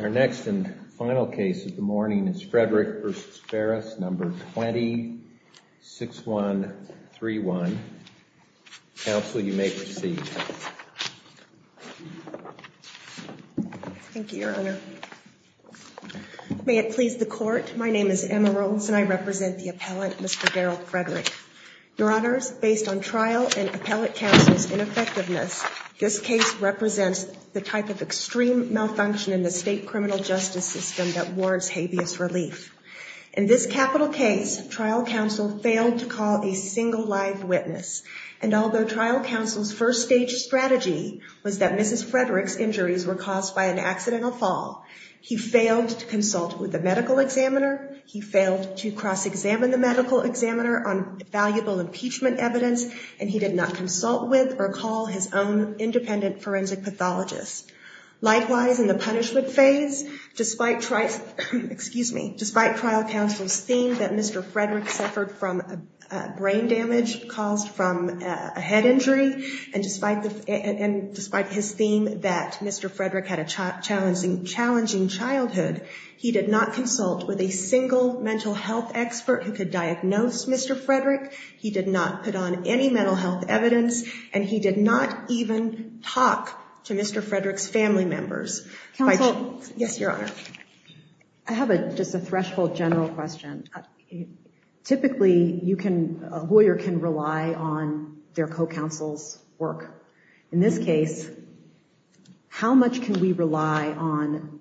Our next and final case of the morning is Frederick v. Farris, No. 20-6131. Counsel, you may proceed. Thank you, Your Honor. May it please the Court, my name is Emma Rollins and I represent the appellant, Mr. Darrell Frederick. Your Honors, based on trial and appellate counsel's ineffectiveness, this case represents the type of extreme malfunction in the state criminal justice system that warrants habeas relief. In this capital case, trial counsel failed to call a single live witness. And although trial counsel's first stage strategy was that Mrs. Frederick's injuries were caused by an accidental fall, he failed to consult with a medical examiner, he failed to cross-examine the medical examiner on valuable impeachment evidence, and he did not consult with or call his own independent forensic pathologist. Likewise, in the punishment phase, despite trial counsel's theme that Mr. Frederick suffered from brain damage caused from a head injury, and despite his theme that Mr. Frederick had a challenging childhood, he did not consult with a single mental health expert who could diagnose Mr. Frederick, he did not put on any mental health evidence, and he did not even talk to Mr. Frederick's family members. Counsel? Yes, Your Honor. I have just a threshold general question. Typically, a lawyer can rely on their co-counsel's work. In this case, how much can we rely on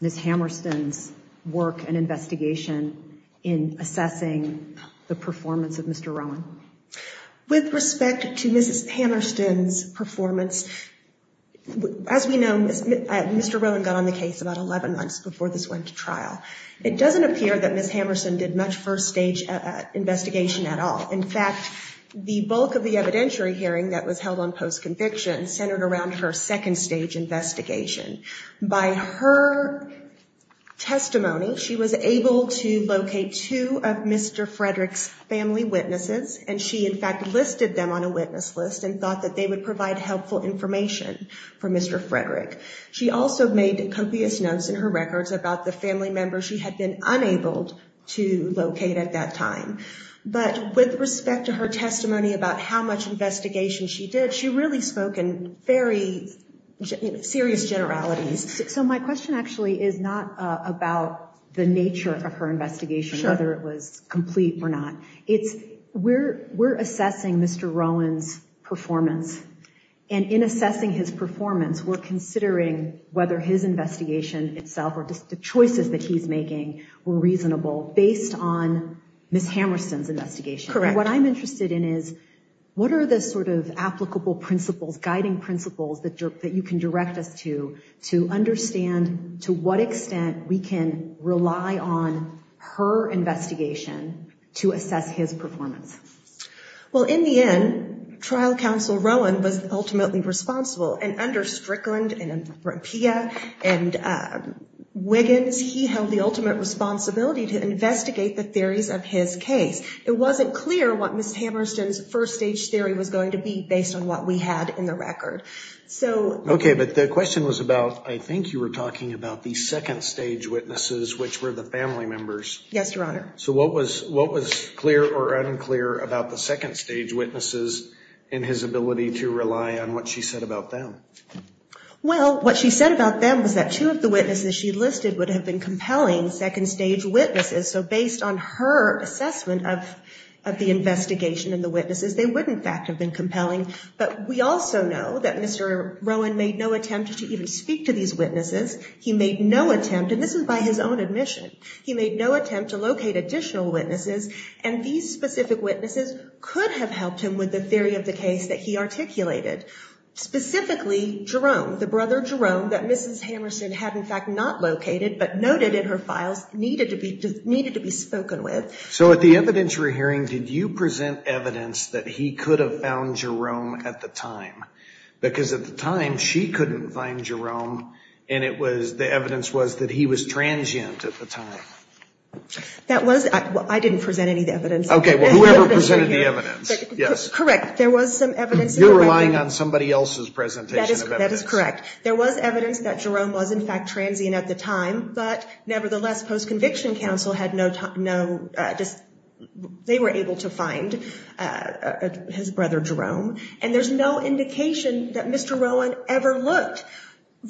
Ms. Hammerston's work and investigation in assessing the performance of Mr. Rowan? With respect to Mrs. Hammerston's performance, as we know, Mr. Rowan got on the case about 11 months before this went to trial. It doesn't appear that Ms. Hammerston did much first-stage investigation at all. In fact, the bulk of the evidentiary hearing that was held on post-conviction centered around her second-stage investigation. By her testimony, she was able to locate two of Mr. Frederick's family witnesses, and she in fact listed them on a witness list and thought that they would provide helpful information for Mr. Frederick. She also made copious notes in her records about the family members she had been unable to locate at that time. But with respect to her testimony about how much investigation she did, she really spoke in very serious generalities. So my question actually is not about the nature of her investigation, whether it was complete or not. It's, we're assessing Mr. Rowan's performance. And in assessing his performance, we're considering whether his investigation itself or just the choices that he's making were reasonable based on Ms. Hammerston's investigation. What I'm interested in is, what are the sort of applicable principles, guiding principles that you can direct us to to understand to what extent we can rely on her investigation to assess his performance? Well, in the end, Trial Counsel Rowan was ultimately responsible. And under Strickland and Appiah and Wiggins, he held the ultimate responsibility to investigate the theories of his case. It wasn't clear what Ms. Hammerston's first stage theory was going to be based on what we had in the record. Okay, but the question was about, I think you were talking about the second stage witnesses, which were the family members. Yes, Your Honor. So what was clear or unclear about the second stage witnesses and his ability to rely on what she said about them? Well, what she said about them was that two of the witnesses she listed would have been compelling second stage witnesses. So based on her assessment of the investigation and the witnesses, they would in fact have been compelling. But we also know that Mr. Rowan made no attempt to even speak to these witnesses. He made no attempt, and this was by his own admission. He made no attempt to locate additional witnesses, and these specific witnesses could have helped him with the theory of the case that he articulated. Specifically, Jerome, the brother Jerome that Mrs. Hammerston had in fact not located, but noted in her files, needed to be spoken with. So at the evidentiary hearing, did you present evidence that he could have found Jerome at the time? Because at the time, she couldn't find Jerome, and it was, the evidence was that he was transient at the time. That was, I didn't present any of the evidence. Okay, well, whoever presented the evidence, yes. Correct, there was some evidence. You're relying on somebody else's presentation of evidence. That is correct. There was evidence that Jerome was in fact transient at the time, but nevertheless, post-conviction counsel had no, they were able to find his brother Jerome. And there's no indication that Mr. Rowan ever looked.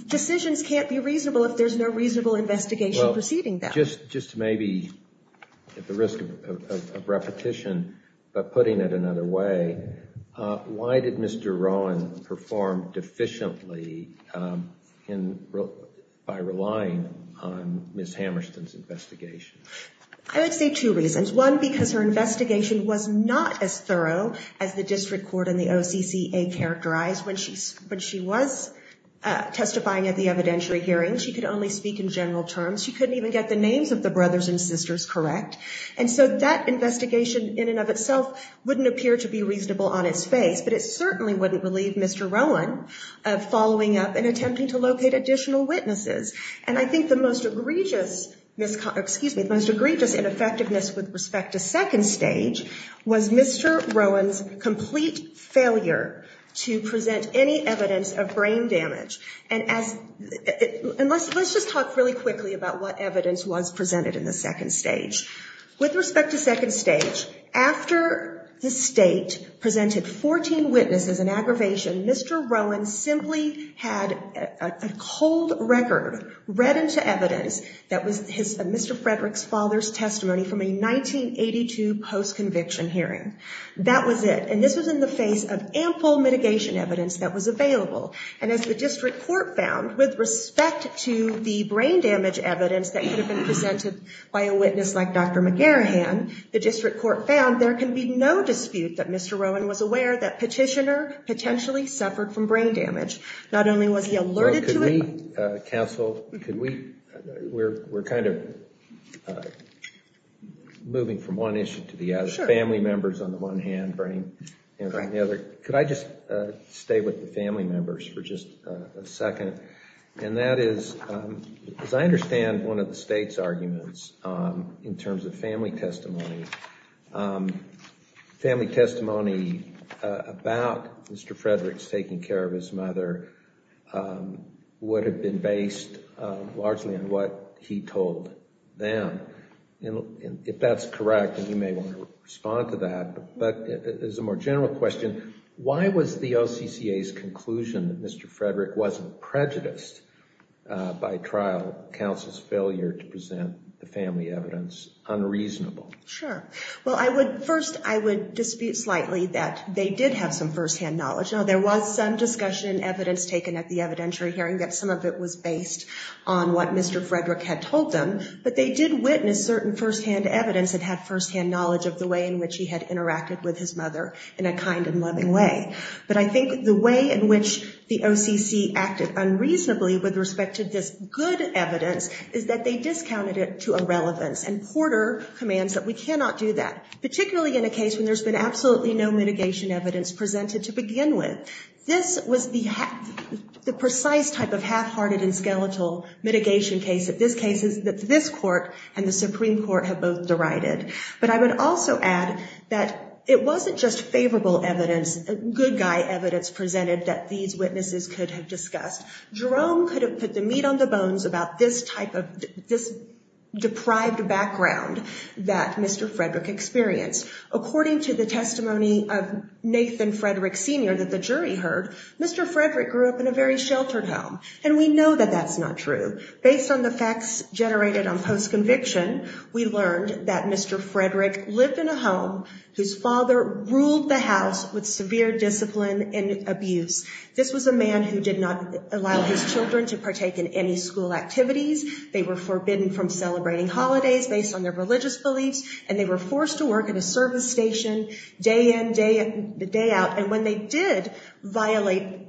Decisions can't be reasonable if there's no reasonable investigation preceding them. Just maybe at the risk of repetition, but putting it another way, why did Mr. Rowan perform deficiently by relying on Mrs. Hammerston's investigation? I would say two reasons. One, because her investigation was not as thorough as the district court and the OCCA characterized when she was testifying at the evidentiary hearing. She could only speak in general terms. She couldn't even get the names of the brothers and sisters correct. And so that investigation in and of itself wouldn't appear to be reasonable on its face, but it certainly wouldn't relieve Mr. Rowan of following up and attempting to locate additional witnesses. And I think the most egregious ineffectiveness with respect to second stage was Mr. Rowan's complete failure to present any evidence of brain damage. And let's just talk really quickly about what evidence was presented in the second stage. With respect to second stage, after the state presented 14 witnesses in aggravation, Mr. Rowan simply had a cold record read into evidence that was Mr. Frederick's father's testimony from a 1982 post-conviction hearing. That was it. And this was in the face of ample mitigation evidence that was available. And as the district court found, with respect to the brain damage evidence that could have been presented by a witness like Dr. McGarrahan, the district court found there can be no dispute that Mr. Rowan was aware that Petitioner potentially suffered from brain damage. Not only was he alerted to it. Counsel, we're kind of moving from one issue to the other. Family members on the one hand, brain damage on the other. Could I just stay with the family members for just a second? And that is, as I understand one of the state's arguments in terms of family testimony, family testimony about Mr. Frederick's taking care of his mother would have been based largely on what he told them. And if that's correct, and you may want to respond to that, but as a more general question, why was the OCCA's conclusion that Mr. Frederick wasn't prejudiced by trial counsel's failure to present the family evidence unreasonable? Sure. Well, I would first, I would dispute slightly that they did have some firsthand knowledge. Now, there was some discussion and evidence taken at the evidentiary hearing that some of it was based on what Mr. Frederick had told them. But they did witness certain firsthand evidence and had firsthand knowledge of the way in which he had interacted with his mother in a kind and loving way. But I think the way in which the OCC acted unreasonably with respect to this good evidence is that they discounted it to irrelevance and Porter commands that we cannot do that. Particularly in a case when there's been absolutely no mitigation evidence presented to begin with. This was the precise type of half-hearted and skeletal mitigation case that this case is, that this court and the Supreme Court have both derided. But I would also add that it wasn't just favorable evidence, good guy evidence presented that these witnesses could have discussed. Jerome could have put the meat on the bones about this type of, this deprived background that Mr. Frederick experienced. According to the testimony of Nathan Frederick Sr. that the jury heard, Mr. Frederick grew up in a very sheltered home. And we know that that's not true. Based on the facts generated on post-conviction, we learned that Mr. Frederick lived in a home whose father ruled the house with severe discipline and abuse. This was a man who did not allow his children to partake in any school activities. They were forbidden from celebrating holidays based on their religious beliefs. And they were forced to work at a service station day in, day out. And when they did violate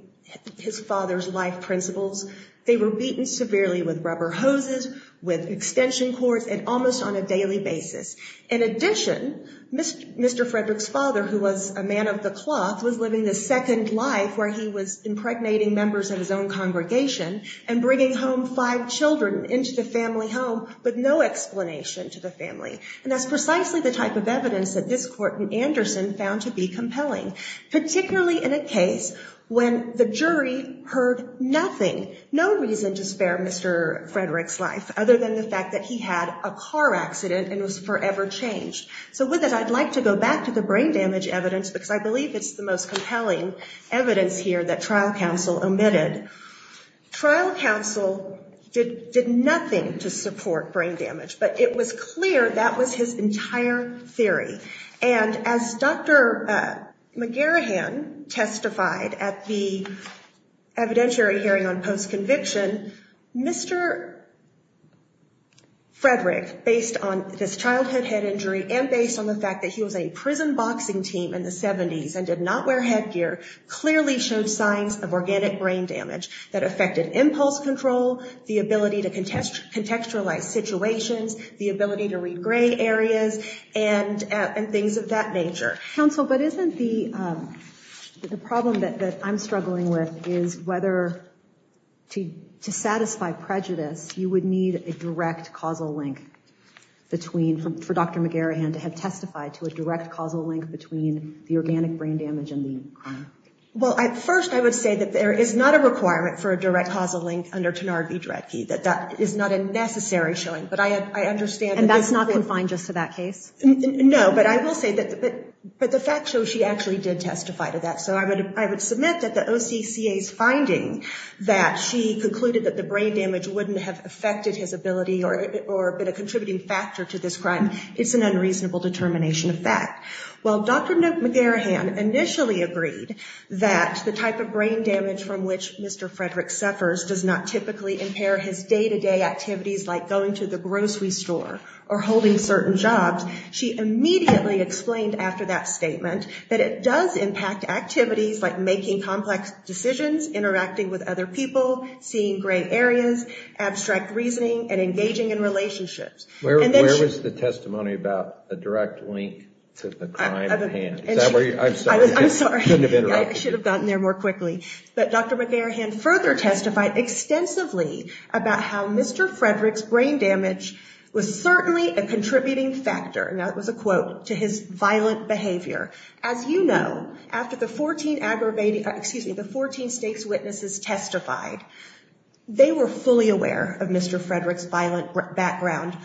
his father's life principles, they were beaten severely with rubber hoses, with extension cords, and almost on a daily basis. In addition, Mr. Frederick's father, who was a man of the cloth, was living the second life where he was impregnating members of his own congregation and bringing home five children into the family home with no explanation to the family. And that's precisely the type of evidence that this court in Anderson found to be compelling, particularly in a case when the jury heard nothing, no reason to spare Mr. Frederick's life, other than the fact that he had a car accident and was forever changed. So with that, I'd like to go back to the brain damage evidence, because I believe it's the most compelling evidence here that trial counsel omitted. Trial counsel did nothing to support brain damage, but it was clear that was his entire theory. And as Dr. McGarahan testified at the evidentiary hearing on post-conviction, Mr. Frederick, based on his childhood head injury and based on the fact that he was a prison boxing team in the 70s and did not wear headgear, clearly showed signs of organic brain damage that affected impulse control, the ability to contextualize situations, the ability to read gray areas, and things of that nature. Counsel, but isn't the problem that I'm struggling with is whether to satisfy prejudice, you would need a direct causal link for Dr. McGarahan to have testified to a direct causal link between the organic brain damage and the crime? Well, at first I would say that there is not a requirement for a direct causal link under Tenard v. Dredge. That is not a necessary showing, but I understand. And that's not confined just to that case? No, but I will say that the facts show she actually did testify to that. So I would submit that the OCCA's finding that she concluded that the brain damage wouldn't have affected his ability or been a contributing factor to this crime is an unreasonable determination of fact. While Dr. McGarahan initially agreed that the type of brain damage from which Mr. Frederick suffers does not typically impair his day-to-day activities like going to the grocery store or holding certain jobs, she immediately explained after that statement that it does impact activities like making complex decisions, interacting with other people, seeing gray areas, abstract reasoning, and engaging in relationships. Where was the testimony about a direct link to the crime at hand? I'm sorry, I shouldn't have interrupted you. I should have gotten there more quickly. But Dr. McGarahan further testified extensively about how Mr. Frederick's brain damage was certainly a contributing factor, and that was a quote, to his violent behavior. As you know, after the 14 aggravated, excuse me, the 14 stakes witnesses testified, they were fully aware of Mr. Frederick's violent background.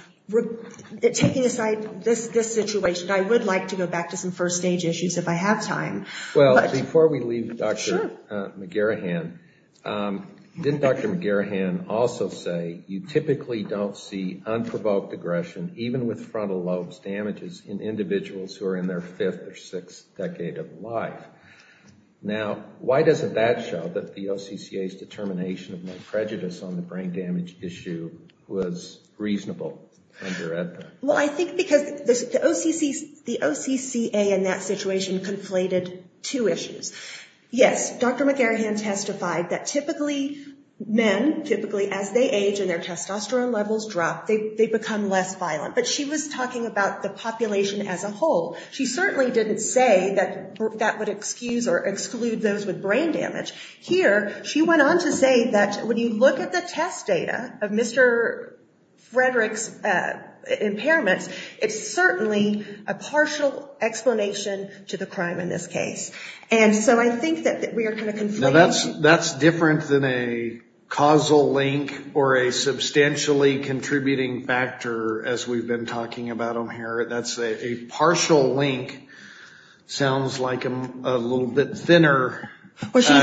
Taking aside this situation, I would like to go back to some first stage issues if I have time. Well, before we leave Dr. McGarahan, didn't Dr. McGarahan also say you typically don't see unprovoked aggression, even with frontal lobes damages, in individuals who are in their fifth or sixth decade of life? Now, why doesn't that show that the OCCA's determination of no prejudice on the brain damage issue was reasonable under EDPA? Well, I think because the OCCA in that situation conflated two issues. Yes, Dr. McGarahan testified that typically men, typically as they age and their testosterone levels drop, they become less violent, but she was talking about the population as a whole. She certainly didn't say that that would excuse or exclude those with brain damage. Here, she went on to say that when you look at the test data of Mr. Frederick's impairments, it's certainly a partial explanation to the crime in this case. And so I think that we are kind of conflated. Well, that's different than a causal link or a substantially contributing factor, as we've been talking about them here. That's a partial link sounds like a little bit thinner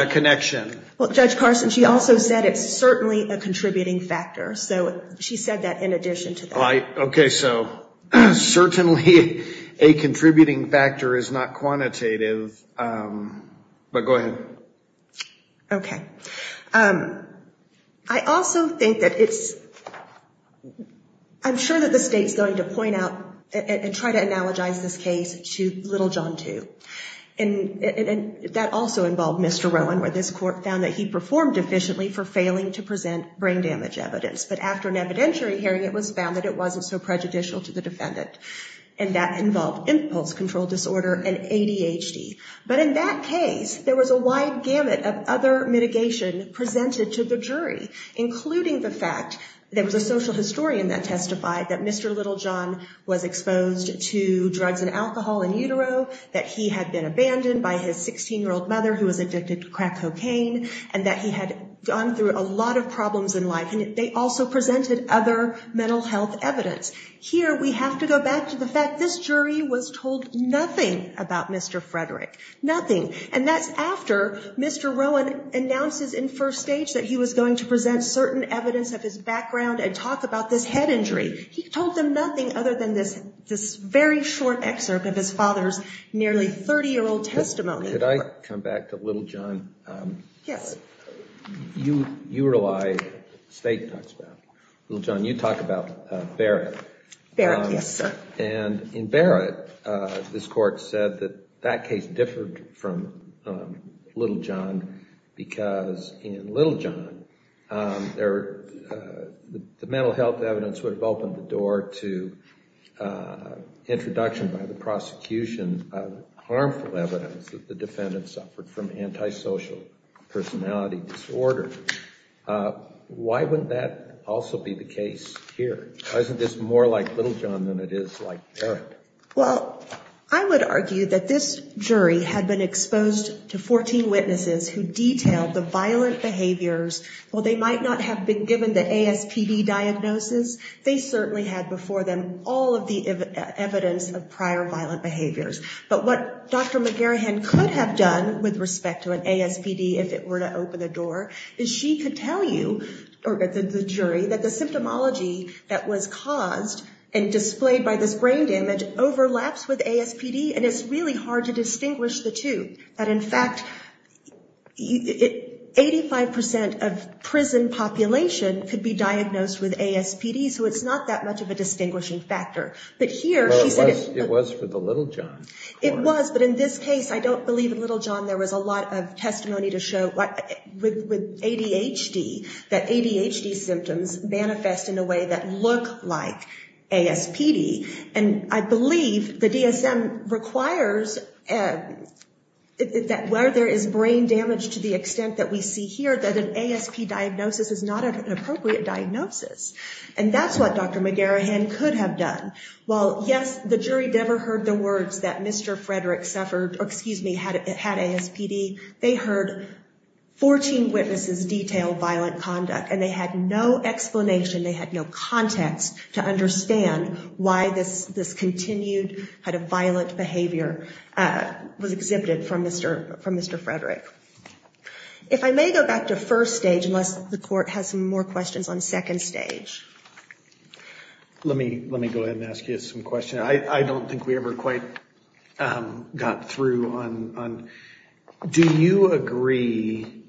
connection. Well, Judge Carson, she also said it's certainly a contributing factor. So she said that in addition to that. All right. Okay. So certainly a contributing factor is not quantitative. But go ahead. Okay. I also think that it's ‑‑ I'm sure that the State's going to point out and try to analogize this case to Little John 2. And that also involved Mr. Rowan, where this court found that he performed efficiently for failing to present brain damage evidence. But after an evidentiary hearing, it was found that it wasn't so prejudicial to the defendant. And that involved impulse control disorder and ADHD. But in that case, there was a wide gamut of other mitigation presented to the jury, including the fact there was a social historian that testified that Mr. Little John was exposed to drugs and alcohol in utero, that he had been abandoned by his 16‑year‑old mother who was addicted to crack cocaine, and that he had gone through a lot of problems in life. And they also presented other mental health evidence. Here we have to go back to the fact this jury was told nothing about Mr. Frederick. Nothing. And that's after Mr. Rowan announces in first stage that he was going to present certain evidence of his background and talk about this head injury. He told them nothing other than this very short excerpt of his father's nearly 30‑year‑old testimony. Could I come back to Little John? Yes. You were alive, State talks about. Little John, you talk about Barrett. Barrett, yes, sir. And in Barrett, this court said that that case differed from Little John because in Little John, the mental health evidence would have opened the door to introduction by the prosecution and harmful evidence that the defendant suffered from antisocial personality disorder. Why wouldn't that also be the case here? Why isn't this more like Little John than it is like Barrett? Well, I would argue that this jury had been exposed to 14 witnesses who detailed the violent behaviors. While they might not have been given the ASPD diagnosis, they certainly had before them all of the evidence of prior violent behaviors. But what Dr. McGarrihan could have done with respect to an ASPD, if it were to open the door, is she could tell you, or the jury, that the symptomology that was caused and displayed by this brain damage overlaps with ASPD, and it's really hard to distinguish the two. But in fact, 85% of prison population could be diagnosed with ASPD, so it's not that much of a distinguishing factor. But here she said it was for the Little John. It was, but in this case, I don't believe in Little John. There was a lot of testimony to show with ADHD that ADHD symptoms manifest in a way that look like ASPD. And I believe the DSM requires that where there is brain damage to the extent that we see here, that an ASPD diagnosis is not an appropriate diagnosis. And that's what Dr. McGarrihan could have done. While, yes, the jury never heard the words that Mr. Frederick suffered, or excuse me, had ASPD, they heard 14 witnesses detail violent conduct, and they had no explanation, they had no context to understand why this continued kind of violent behavior was exhibited from Mr. Frederick. If I may go back to first stage, unless the court has some more questions on second stage. Let me go ahead and ask you some questions. I don't think we ever quite got through on. Do you agree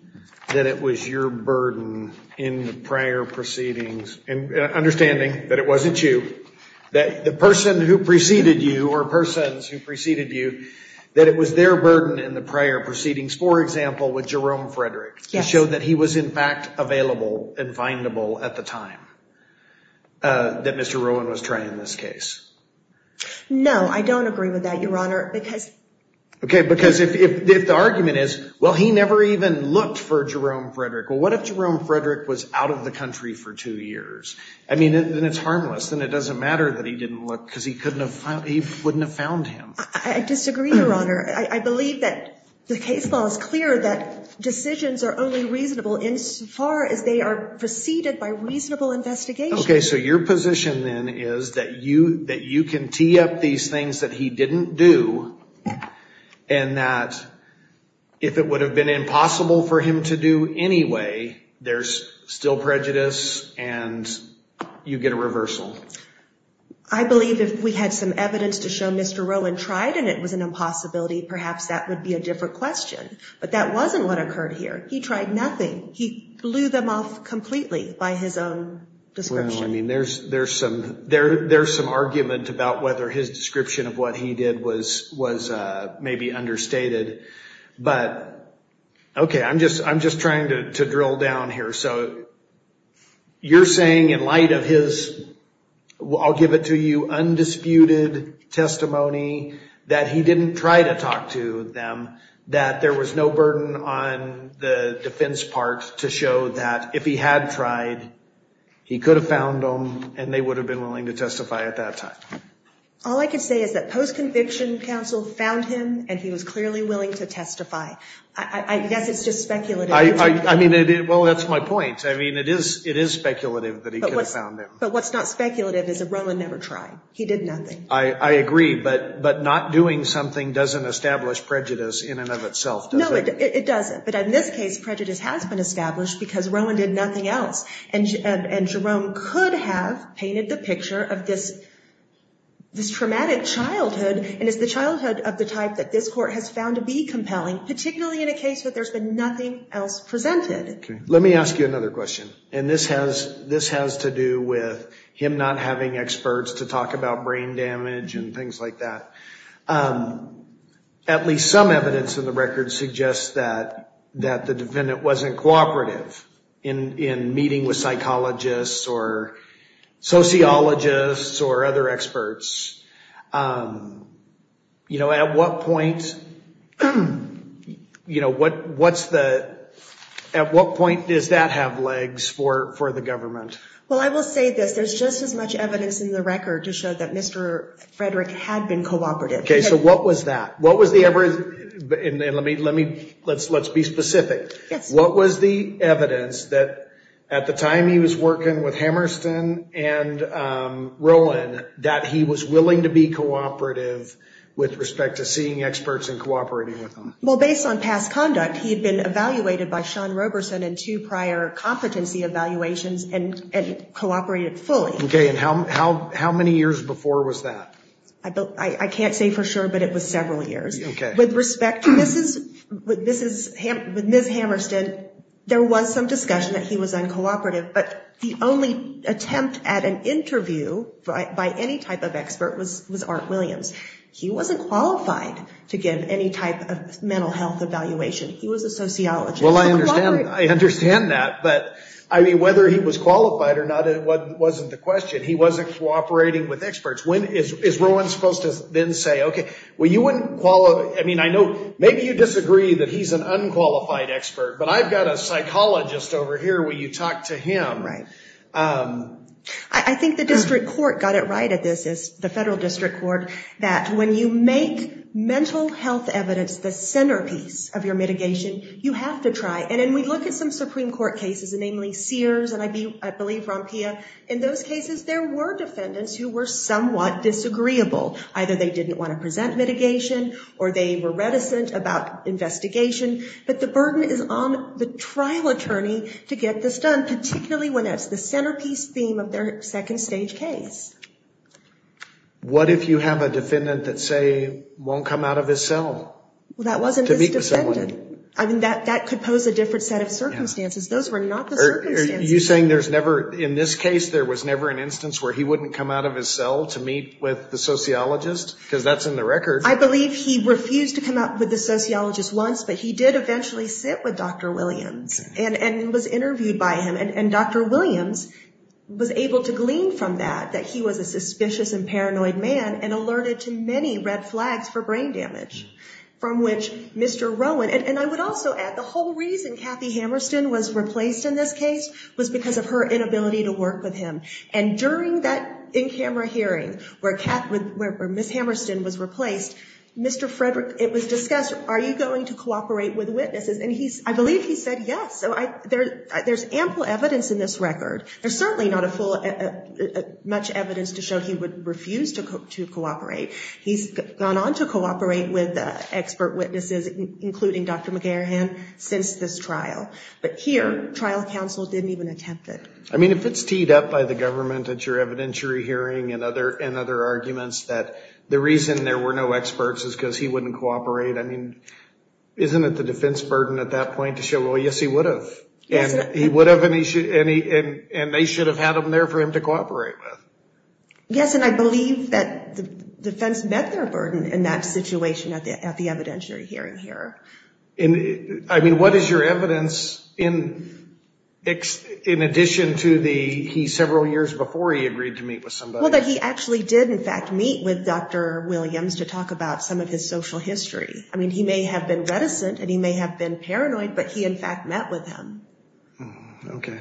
that it was your burden in the prior proceedings, and understanding that it wasn't you, that the person who preceded you or persons who preceded you, that it was their burden in the prior proceedings, for example, with Jerome Frederick, to show that he was in fact available and findable at the time that Mr. Rowan was trying in this case? No, I don't agree with that, Your Honor, because. Okay, because if the argument is, well, he never even looked for Jerome Frederick, well, what if Jerome Frederick was out of the country for two years? I mean, then it's harmless. Then it doesn't matter that he didn't look, because he wouldn't have found him. I disagree, Your Honor. I believe that the case law is clear that decisions are only reasonable insofar as they are preceded by reasonable investigation. Okay, so your position then is that you can tee up these things that he didn't do, and that if it would have been impossible for him to do anyway, there's still prejudice and you get a reversal. I believe if we had some evidence to show Mr. Rowan tried and it was an impossibility, perhaps that would be a different question. But that wasn't what occurred here. He tried nothing. He blew them off completely by his own description. Well, I mean, there's some argument about whether his description of what he did was maybe understated. But, okay, I'm just trying to drill down here. So you're saying in light of his, I'll give it to you, undisputed testimony that he didn't try to talk to them, that there was no burden on the defense part to show that if he had tried, he could have found them and they would have been willing to testify at that time? All I can say is that post-conviction counsel found him and he was clearly willing to testify. I guess it's just speculative. I mean, well, that's my point. I mean, it is speculative that he could have found them. But what's not speculative is that Rowan never tried. He did nothing. I agree. But not doing something doesn't establish prejudice in and of itself, does it? No, it doesn't. But in this case, prejudice has been established because Rowan did nothing else. And Jerome could have painted the picture of this traumatic childhood, and it's the childhood of the type that this Court has found to be compelling, particularly in a case where there's been nothing else presented. Let me ask you another question. And this has to do with him not having experts to talk about brain damage and things like that. At least some evidence in the record suggests that the defendant wasn't cooperative in meeting with psychologists or sociologists or other experts. You know, at what point does that have legs for the government? Well, I will say this. There's just as much evidence in the record to show that Mr. Frederick had been cooperative. Okay. So what was that? Let's be specific. Yes. At the time he was working with Hammerston and Rowan, that he was willing to be cooperative with respect to seeing experts and cooperating with them. Well, based on past conduct, he had been evaluated by Sean Roberson in two prior competency evaluations and cooperated fully. Okay. And how many years before was that? I can't say for sure, but it was several years. Okay. With respect to Ms. Hammerston, there was some discussion that he was uncooperative. But the only attempt at an interview by any type of expert was Art Williams. He wasn't qualified to give any type of mental health evaluation. He was a sociologist. Well, I understand that. But, I mean, whether he was qualified or not wasn't the question. He wasn't cooperating with experts. When is Rowan supposed to then say, okay, well, you wouldn't qualify. I mean, I know maybe you disagree that he's an unqualified expert, but I've got a psychologist over here. Will you talk to him? Right. I think the district court got it right at this, the federal district court, that when you make mental health evidence the centerpiece of your mitigation, you have to try. And then we look at some Supreme Court cases, namely Sears and I believe Rompia. In those cases, there were defendants who were somewhat disagreeable. Either they didn't want to present mitigation or they were reticent about investigation. But the burden is on the trial attorney to get this done, particularly when that's the centerpiece theme of their second stage case. What if you have a defendant that, say, won't come out of his cell? Well, that wasn't this defendant. I mean, that could pose a different set of circumstances. Those were not the circumstances. Are you saying there's never, in this case, there was never an instance where he wouldn't come out of his cell to meet with the sociologist? Because that's in the record. I believe he refused to come out with the sociologist once, but he did eventually sit with Dr. Williams and was interviewed by him. And Dr. Williams was able to glean from that that he was a suspicious and paranoid man and alerted to many red flags for brain damage, from which Mr. Rowan, and I would also add, the whole reason Kathy Hammerstein was replaced in this case was because of her inability to work with him. And during that in-camera hearing where Ms. Hammerstein was replaced, it was discussed, are you going to cooperate with witnesses? And I believe he said yes. So there's ample evidence in this record. There's certainly not much evidence to show he would refuse to cooperate. He's gone on to cooperate with expert witnesses, including Dr. McGarrihan, since this trial. But here, trial counsel didn't even attempt it. I mean, if it's teed up by the government at your evidentiary hearing and other arguments that the reason there were no experts is because he wouldn't cooperate, isn't it the defense burden at that point to show, well, yes, he would have. And he would have, and they should have had him there for him to cooperate with. Yes, and I believe that the defense met their burden in that situation at the evidentiary hearing here. I mean, what is your evidence in addition to the he several years before he agreed to meet with somebody? Well, that he actually did, in fact, meet with Dr. Williams to talk about some of his social history. I mean, he may have been reticent and he may have been paranoid, but he, in fact, met with him. Okay.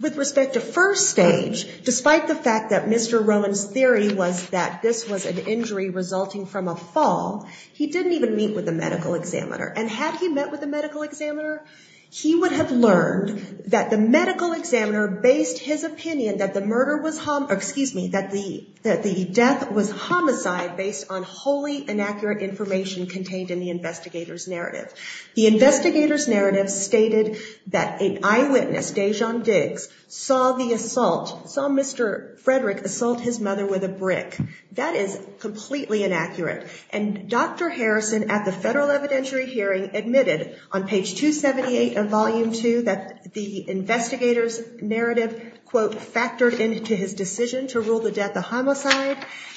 With respect to first stage, despite the fact that Mr. Rowan's theory was that this was an injury resulting from a fall, he didn't even meet with the medical examiner. And had he met with the medical examiner, he would have learned that the medical examiner based his opinion that the murder was, excuse me, that the death was homicide based on wholly inaccurate information contained in the investigator's narrative. The investigator's narrative stated that an eyewitness, Dajon Diggs, saw the assault, saw Mr. Frederick assault his mother with a brick. That is completely inaccurate. And Dr. Harrison, at the federal evidentiary hearing, admitted on page 278 of volume 2 that the investigator's narrative, quote, factored into his decision to rule the death a homicide.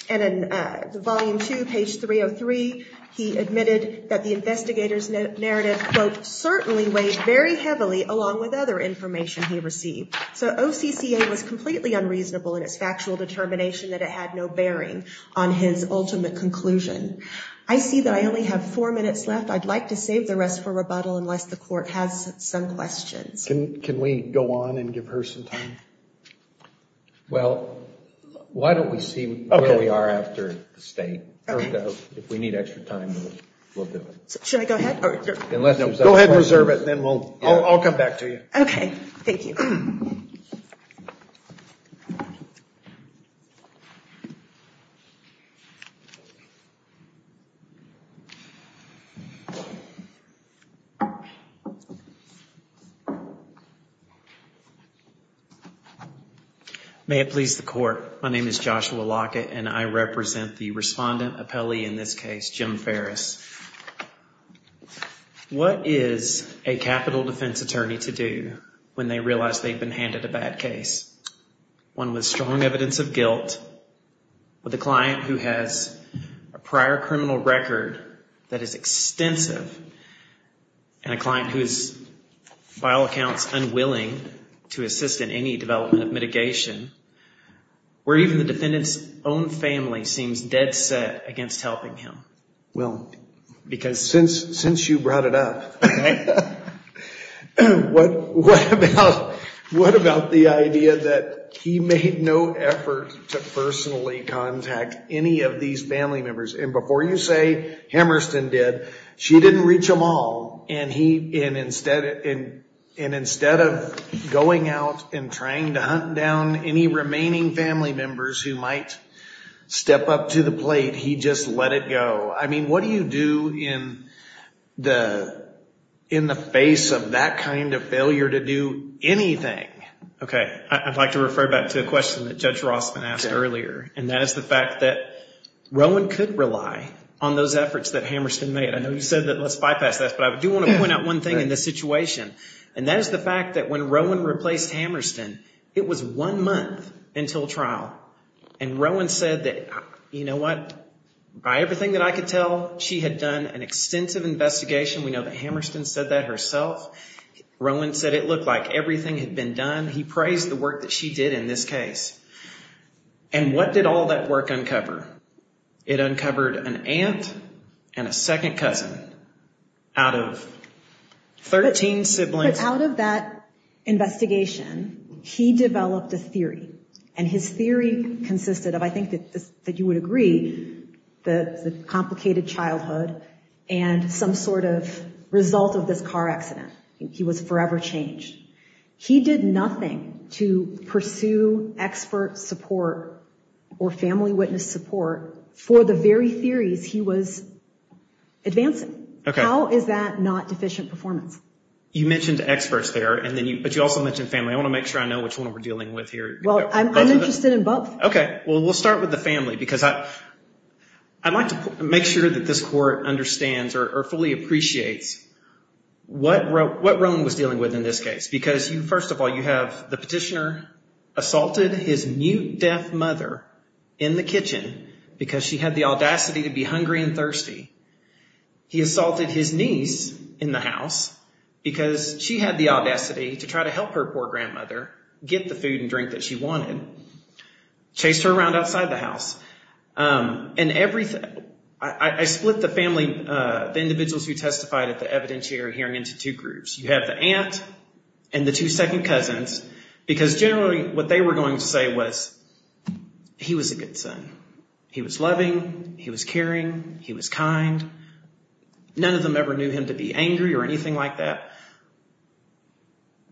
And in volume 2, page 303, he admitted that the investigator's narrative, quote, certainly weighed very heavily along with other information he received. So OCCA was completely unreasonable in its factual determination that it had no bearing on his ultimate conclusion. I see that I only have four minutes left. I'd like to save the rest for rebuttal unless the court has some questions. Can we go on and give her some time? Well, why don't we see where we are after the state? If we need extra time, we'll do it. Should I go ahead? Go ahead and reserve it, and then I'll come back to you. Okay. Thank you. Thank you. May it please the court. My name is Joshua Lockett, and I represent the respondent appellee in this case, Jim Ferris. What is a capital defense attorney to do when they realize they've been handed a bad case, one with strong evidence of guilt, with a client who has a prior criminal record that is extensive, and a client who is, by all accounts, unwilling to assist in any development of mitigation, where even the defendant's own family seems dead set against helping him? Well, because since you brought it up, what about the idea that he made no effort to personally contact any of these family members? And before you say, Hammerston did. She didn't reach them all, and instead of going out and trying to hunt down any remaining family members who might step up to the plate, he just let it go. I mean, what do you do in the face of that kind of failure to do anything? Okay. I'd like to refer back to a question that Judge Rossman asked earlier, and that is the fact that Rowan could rely on those efforts that Hammerston made. I know you said that. Let's bypass that. But I do want to point out one thing in this situation, and that is the fact that when Rowan replaced Hammerston, it was one month until trial, and Rowan said that, you know what? By everything that I could tell, she had done an extensive investigation. We know that Hammerston said that herself. Rowan said it looked like everything had been done. He praised the work that she did in this case. And what did all that work uncover? It uncovered an aunt and a second cousin out of 13 siblings. But out of that investigation, he developed a theory, and his theory consisted of, I think that you would agree, the complicated childhood and some sort of result of this car accident. He was forever changed. He did nothing to pursue expert support or family witness support for the very theories he was advancing. How is that not deficient performance? You mentioned experts there, but you also mentioned family. I want to make sure I know which one we're dealing with here. Well, I'm interested in both. Okay. Well, we'll start with the family because I'd like to make sure that this court understands or fully appreciates what Rowan was dealing with in this case because, first of all, you have the petitioner assaulted his mute, deaf mother in the kitchen because she had the audacity to be hungry and thirsty. He assaulted his niece in the house because she had the audacity to try to help her poor grandmother get the food and drink that she wanted, chased her around outside the house. I split the individuals who testified at the evidentiary hearing into two groups. You have the aunt and the two second cousins because, generally, what they were going to say was he was a good son. He was loving. He was caring. He was kind. None of them ever knew him to be angry or anything like that.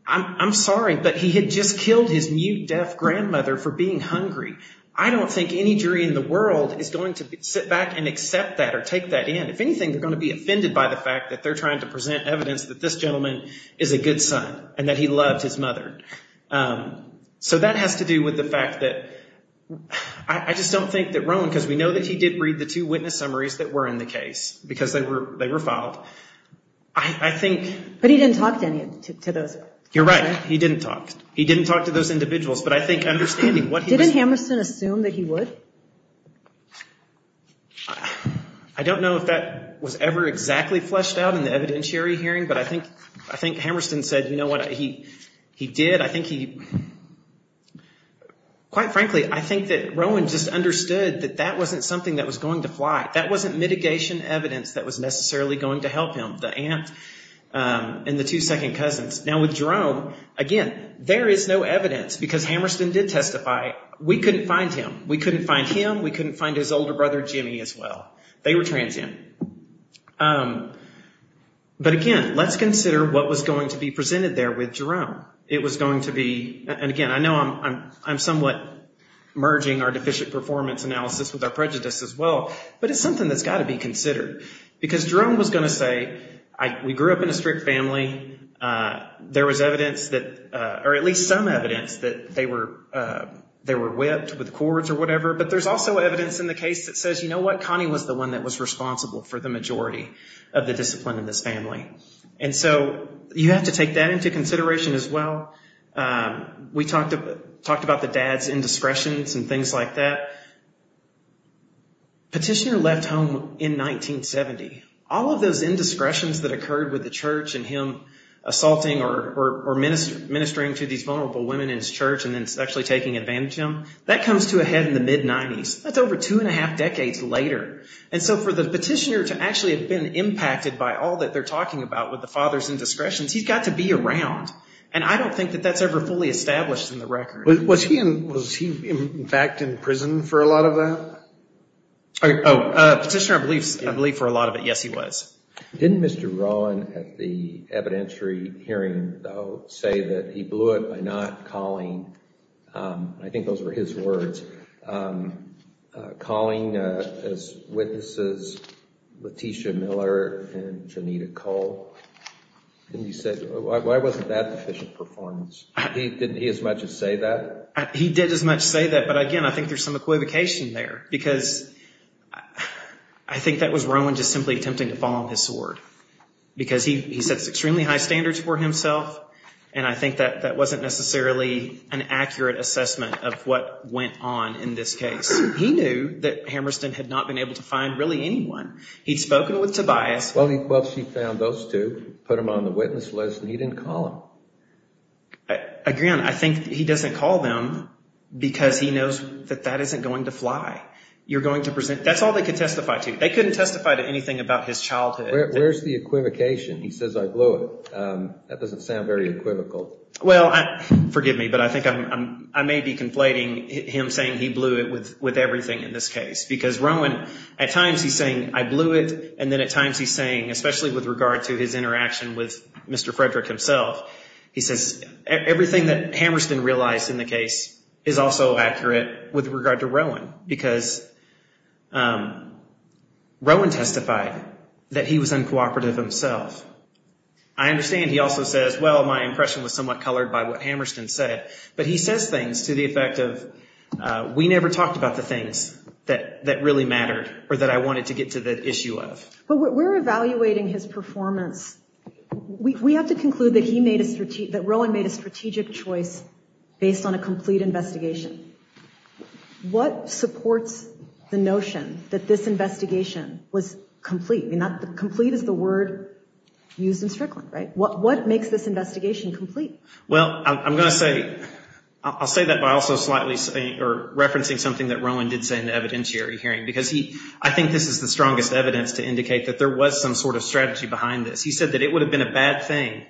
I'm sorry, but he had just killed his mute, deaf grandmother for being hungry. I don't think any jury in the world is going to sit back and accept that or take that in. If anything, they're going to be offended by the fact that they're trying to present evidence that this gentleman is a good son and that he loved his mother. So that has to do with the fact that I just don't think that Rowan, because we know that he did read the two witness summaries that were in the case because they were filed. I think... But he didn't talk to any of those. You're right. He didn't talk. He didn't talk to those individuals. But I think understanding what he was... Didn't Hammerston assume that he would? I don't know if that was ever exactly fleshed out in the evidentiary hearing, but I think Hammerston said, you know what, he did. But I think he... Quite frankly, I think that Rowan just understood that that wasn't something that was going to fly. That wasn't mitigation evidence that was necessarily going to help him, the aunt and the two second cousins. Now with Jerome, again, there is no evidence because Hammerston did testify. We couldn't find him. We couldn't find him. We couldn't find his older brother, Jimmy, as well. But again, let's consider what was going to be presented there with Jerome. It was going to be... And again, I know I'm somewhat merging our deficient performance analysis with our prejudice as well, but it's something that's got to be considered. Because Jerome was going to say, we grew up in a strict family. There was evidence that... Or at least some evidence that they were whipped with cords or whatever. But there's also evidence in the case that says, you know what, Connie was the one that was responsible for the majority of the discipline in this family. And so you have to take that into consideration as well. We talked about the dad's indiscretions and things like that. Petitioner left home in 1970. All of those indiscretions that occurred with the church and him assaulting or ministering to these vulnerable women in his church and then actually taking advantage of them, that comes to a head in the mid-'90s. That's over two and a half decades later. And so for the petitioner to actually have been impacted by all that they're talking about with the father's indiscretions, he's got to be around. And I don't think that that's ever fully established in the record. Was he, in fact, in prison for a lot of that? Petitioner, I believe, for a lot of it, yes, he was. Didn't Mr. Rowan at the evidentiary hearing, though, say that he blew it by not calling? I think those were his words. Calling as witnesses Letitia Miller and Janita Cole. And he said, why wasn't that efficient performance? Didn't he as much as say that? He did as much say that, but, again, I think there's some equivocation there because I think that was Rowan just simply attempting to follow his sword because he sets extremely high standards for himself, and I think that wasn't necessarily an accurate assessment of what went on in this case. He knew that Hammerston had not been able to find really anyone. He'd spoken with Tobias. Well, she found those two, put them on the witness list, and he didn't call them. Again, I think he doesn't call them because he knows that that isn't going to fly. That's all they could testify to. They couldn't testify to anything about his childhood. Where's the equivocation? He says, I blew it. That doesn't sound very equivocal. Well, forgive me, but I think I may be conflating him saying he blew it with everything in this case because Rowan at times he's saying, I blew it, and then at times he's saying, especially with regard to his interaction with Mr. Frederick himself, he says everything that Hammerston realized in the case is also accurate with regard to Rowan because Rowan testified that he was uncooperative himself. I understand he also says, well, my impression was somewhat colored by what Hammerston said, but he says things to the effect of we never talked about the things that really mattered or that I wanted to get to the issue of. But we're evaluating his performance. We have to conclude that Rowan made a strategic choice based on a complete investigation. What supports the notion that this investigation was complete? Complete is the word used in Strickland, right? What makes this investigation complete? Well, I'm going to say, I'll say that by also slightly referencing something that Rowan did say in the evidentiary hearing because I think this is the strongest evidence to indicate that there was some sort of strategy behind this. He said that it would have been a bad thing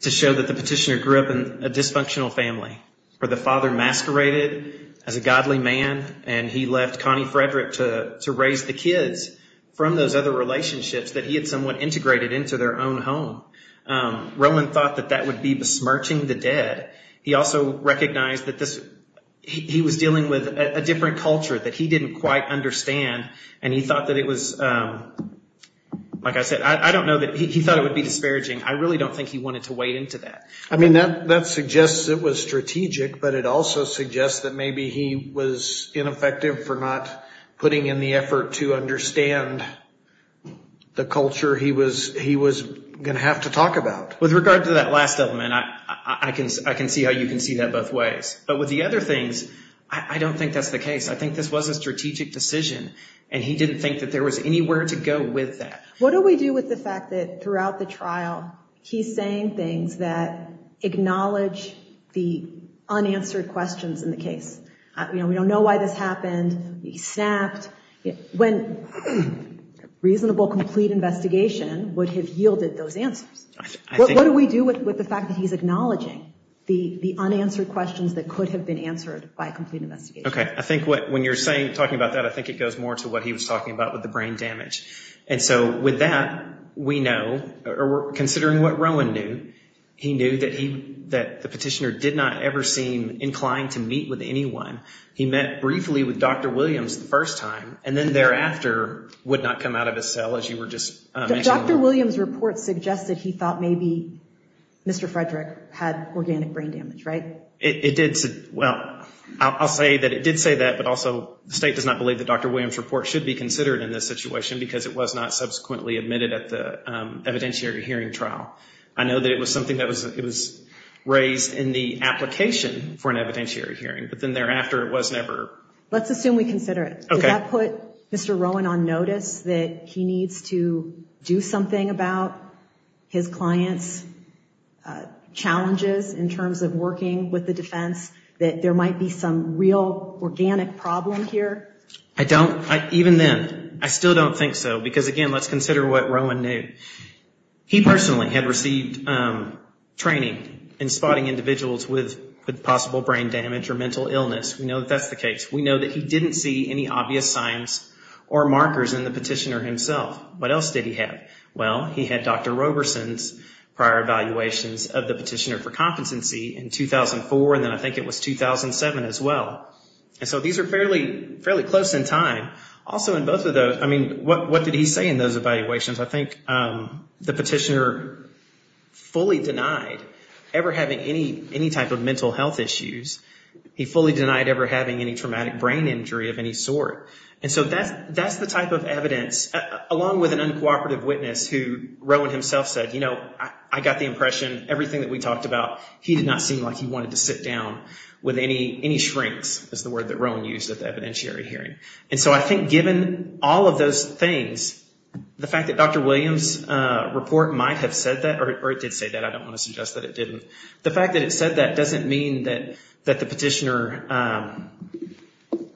to show that the petitioner grew up in a dysfunctional family where the father masqueraded as a godly man and he left Connie Frederick to raise the kids from those other relationships that he had somewhat integrated into their own home. Rowan thought that that would be besmirching the dead. He also recognized that this, he was dealing with a different culture that he didn't quite understand and he thought that it was, like I said, I don't know that, he thought it would be disparaging. I really don't think he wanted to wade into that. I mean, that suggests it was strategic, but it also suggests that maybe he was ineffective for not putting in the effort to understand the culture he was going to have to talk about. With regard to that last element, I can see how you can see that both ways. But with the other things, I don't think that's the case. I think this was a strategic decision and he didn't think that there was anywhere to go with that. What do we do with the fact that throughout the trial, he's saying things that acknowledge the unanswered questions in the case? You know, we don't know why this happened, he snapped. When a reasonable, complete investigation would have yielded those answers. What do we do with the fact that he's acknowledging the unanswered questions that could have been answered by a complete investigation? Okay, I think when you're talking about that, I think it goes more to what he was talking about with the brain damage. And so with that, we know, considering what Rowan knew, he knew that the petitioner did not ever seem inclined to meet with anyone. He met briefly with Dr. Williams the first time, and then thereafter would not come out of his cell, as you were just mentioning. Dr. Williams' report suggested he thought maybe Mr. Frederick had organic brain damage, right? It did. Well, I'll say that it did say that, but also the state does not believe that Dr. Williams' report should be considered in this situation because it was not subsequently admitted at the evidentiary hearing trial. I know that it was something that was raised in the application for an evidentiary hearing, but then thereafter it was never. Let's assume we consider it. Okay. Did that put Mr. Rowan on notice that he needs to do something about his client's challenges in terms of working with the defense, that there might be some real organic problem here? Even then, I still don't think so, because again, let's consider what Rowan knew. He personally had received training in spotting individuals with possible brain damage or mental illness. We know that that's the case. We know that he didn't see any obvious signs or markers in the petitioner himself. What else did he have? Well, he had Dr. Roberson's prior evaluations of the petitioner for competency in 2004, and then I think it was 2007 as well. These are fairly close in time. Also, in both of those, what did he say in those evaluations? I think the petitioner fully denied ever having any type of mental health issues. He fully denied ever having any traumatic brain injury of any sort. That's the type of evidence, along with an uncooperative witness who Rowan himself said, you know, I got the impression, everything that we talked about, he did not seem like he wanted to sit down with any shrinks, is the word that Rowan used at the evidentiary hearing. I think given all of those things, the fact that Dr. Williams' report might have said that, or it did say that, I don't want to suggest that it didn't, the fact that it said that doesn't mean that the petitioner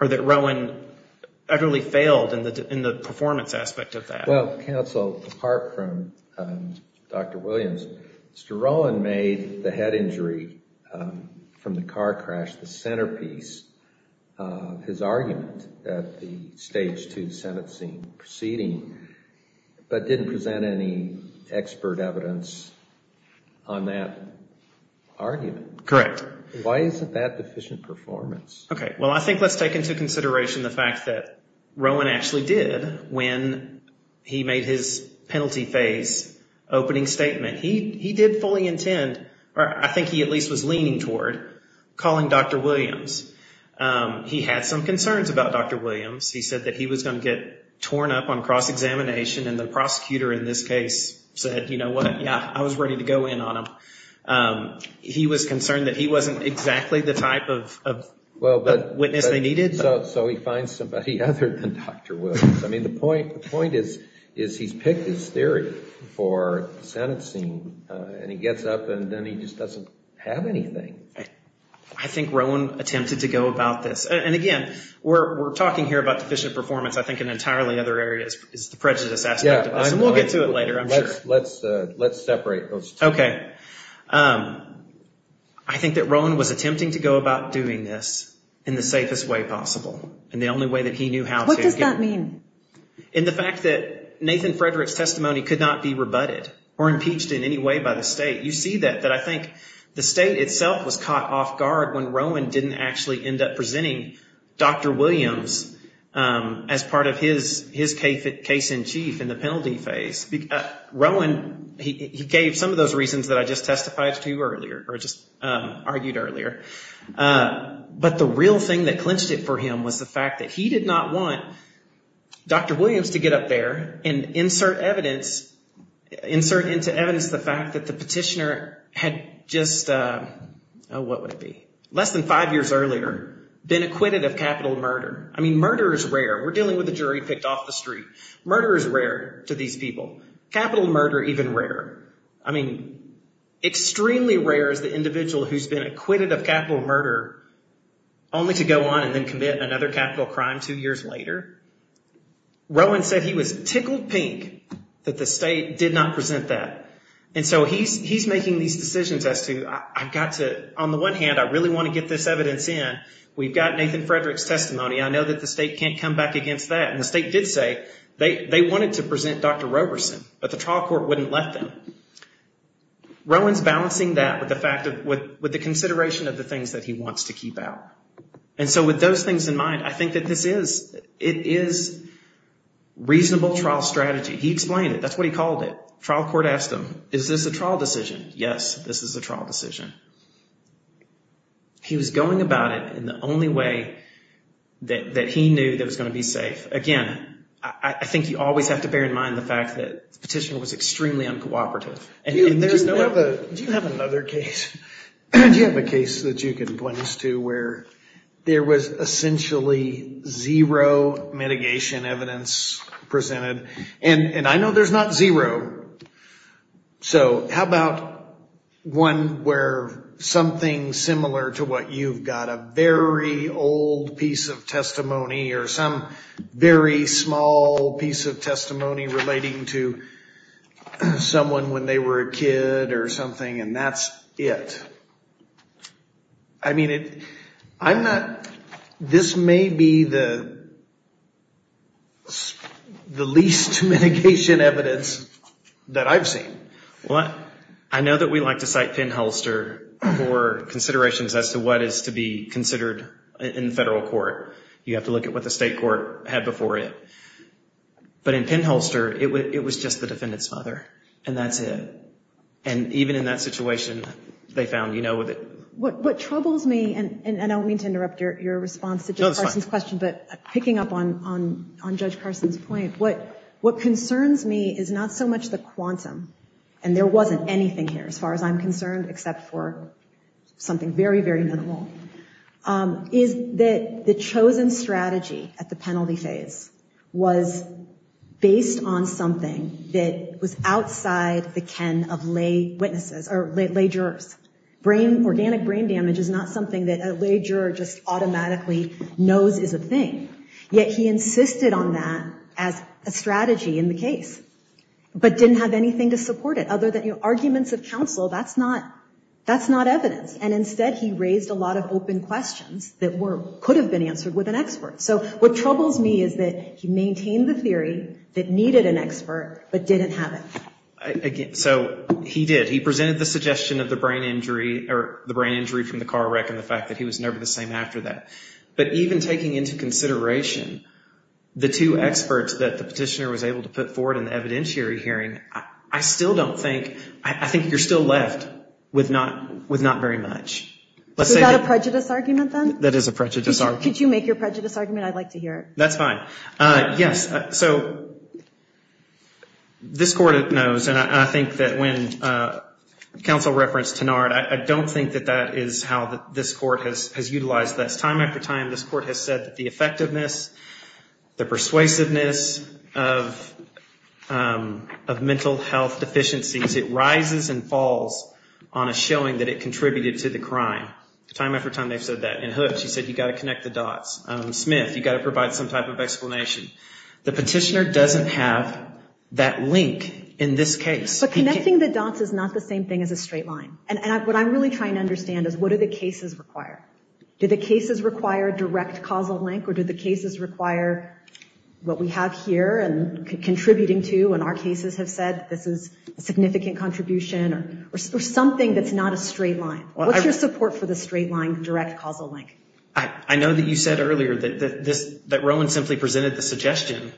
or that Rowan utterly failed in the performance aspect of that. Well, counsel, apart from Dr. Williams, Mr. Rowan made the head injury from the car crash the centerpiece of his argument at the Stage 2 Senate scene proceeding, but didn't present any expert evidence on that argument. Correct. Why isn't that deficient performance? Okay. Well, I think let's take into consideration the fact that Rowan actually did, when he made his penalty phase opening statement, he did fully intend, or I think he at least was leaning toward, calling Dr. Williams. He had some concerns about Dr. Williams. He said that he was going to get torn up on cross-examination, and the prosecutor in this case said, you know what, yeah, I was ready to go in on him. He was concerned that he wasn't exactly the type of witness they needed. So he finds somebody other than Dr. Williams. I mean, the point is he's picked this theory for the Senate scene, and he gets up and then he just doesn't have anything. I think Rowan attempted to go about this. And, again, we're talking here about deficient performance, I think in entirely other areas is the prejudice aspect of this, and we'll get to it later, I'm sure. Let's separate those two. Okay. I think that Rowan was attempting to go about doing this in the safest way possible, and the only way that he knew how to. What does that mean? In the fact that Nathan Frederick's testimony could not be rebutted or impeached in any way by the state. You see that, that I think the state itself was caught off guard when Rowan didn't actually end up presenting Dr. Williams as part of his case in chief in the penalty phase. Rowan, he gave some of those reasons that I just testified to earlier, or just argued earlier. But the real thing that clinched it for him was the fact that he did not want Dr. Williams to get up there and insert evidence, insert into evidence the fact that the petitioner had just, what would it be, less than five years earlier been acquitted of capital murder. I mean, murder is rare. We're dealing with a jury picked off the street. Murder is rare to these people. Capital murder even rarer. I mean, extremely rare is the individual who's been acquitted of capital murder only to go on and then commit another capital crime two years later. Rowan said he was tickled pink that the state did not present that. And so he's making these decisions as to I've got to, on the one hand, I really want to get this evidence in. We've got Nathan Frederick's testimony. I know that the state can't come back against that. And the state did say they wanted to present Dr. Roberson, but the trial court wouldn't let them. Rowan's balancing that with the fact of, with the consideration of the things that he wants to keep out. And so with those things in mind, I think that this is, it is reasonable trial strategy. He explained it. That's what he called it. Trial court asked him, is this a trial decision? Yes, this is a trial decision. He was going about it in the only way that he knew that it was going to be safe. Again, I think you always have to bear in mind the fact that the petitioner was extremely uncooperative. Do you have another case? Do you have a case that you can point us to where there was essentially zero mitigation evidence presented? And I know there's not zero. So how about one where something similar to what you've got, a very old piece of testimony or some very small piece of testimony relating to someone when they were a kid or something, and that's it? I mean, I'm not, this may be the least mitigation evidence that I've seen. I know that we like to cite Penn-Holster for considerations as to what is to be considered in federal court. You have to look at what the state court had before it. But in Penn-Holster, it was just the defendant's father, and that's it. And even in that situation, they found, you know, with it. What troubles me, and I don't mean to interrupt your response to Judge Carson's question, but picking up on Judge Carson's point, what concerns me is not so much the quantum, and there wasn't anything here as far as I'm concerned except for something very, very minimal, is that the chosen strategy at the penalty phase was based on something that was outside the ken of lay witnesses or lay jurors. Brain, organic brain damage is not something that a lay juror just automatically knows is a thing. Yet he insisted on that as a strategy in the case. But didn't have anything to support it other than arguments of counsel. That's not evidence. And instead, he raised a lot of open questions that could have been answered with an expert. So what troubles me is that he maintained the theory that needed an expert but didn't have it. So he did. He presented the suggestion of the brain injury from the car wreck and the fact that he was never the same after that. But even taking into consideration the two experts that the petitioner was able to put forward in the evidentiary hearing, I still don't think, I think you're still left with not very much. Is that a prejudice argument then? That is a prejudice argument. Could you make your prejudice argument? I'd like to hear it. That's fine. Yes. So this court knows, and I think that when counsel referenced Tenard, I don't think that that is how this court has utilized this. Time after time, this court has said that the effectiveness, the persuasiveness of mental health deficiencies, it rises and falls on a showing that it contributed to the crime. Time after time, they've said that. In Hooks, he said you've got to connect the dots. In Smith, you've got to provide some type of explanation. The petitioner doesn't have that link in this case. But connecting the dots is not the same thing as a straight line. And what I'm really trying to understand is what do the cases require? Do the cases require direct causal link, or do the cases require what we have here and contributing to, and our cases have said this is a significant contribution, or something that's not a straight line? What's your support for the straight line, direct causal link? I know that you said earlier that Rowan simply presented the suggestion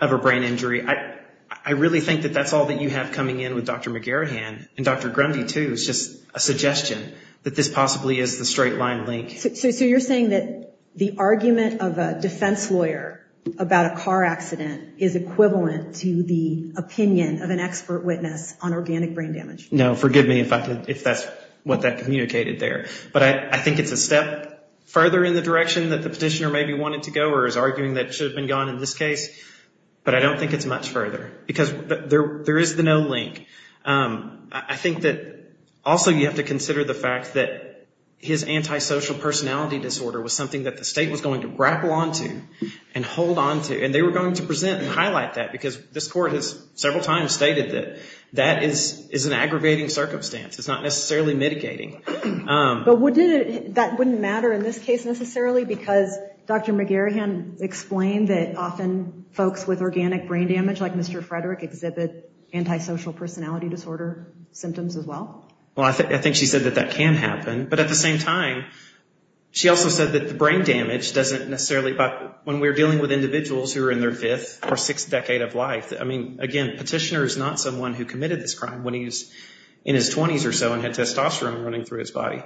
of a brain injury. I really think that that's all that you have coming in with Dr. McGarahan, and Dr. Grundy, too. It's just a suggestion that this possibly is the straight line link. So you're saying that the argument of a defense lawyer about a car accident is equivalent to the opinion of an expert witness on organic brain damage? No, forgive me if that's what that communicated there. But I think it's a step further in the direction that the petitioner maybe wanted to go, or is arguing that it should have been gone in this case. But I don't think it's much further, because there is the no link. I think that also you have to consider the fact that his antisocial personality disorder was something that the state was going to grapple onto and hold onto, and they were going to present and highlight that, because this court has several times stated that that is an aggravating circumstance. It's not necessarily mitigating. But that wouldn't matter in this case necessarily, because Dr. McGarahan explained that often folks with organic brain damage, much like Mr. Frederick, exhibit antisocial personality disorder symptoms as well. Well, I think she said that that can happen. But at the same time, she also said that the brain damage doesn't necessarily— when we're dealing with individuals who are in their fifth or sixth decade of life, I mean, again, the petitioner is not someone who committed this crime when he was in his 20s or so and had testosterone running through his body.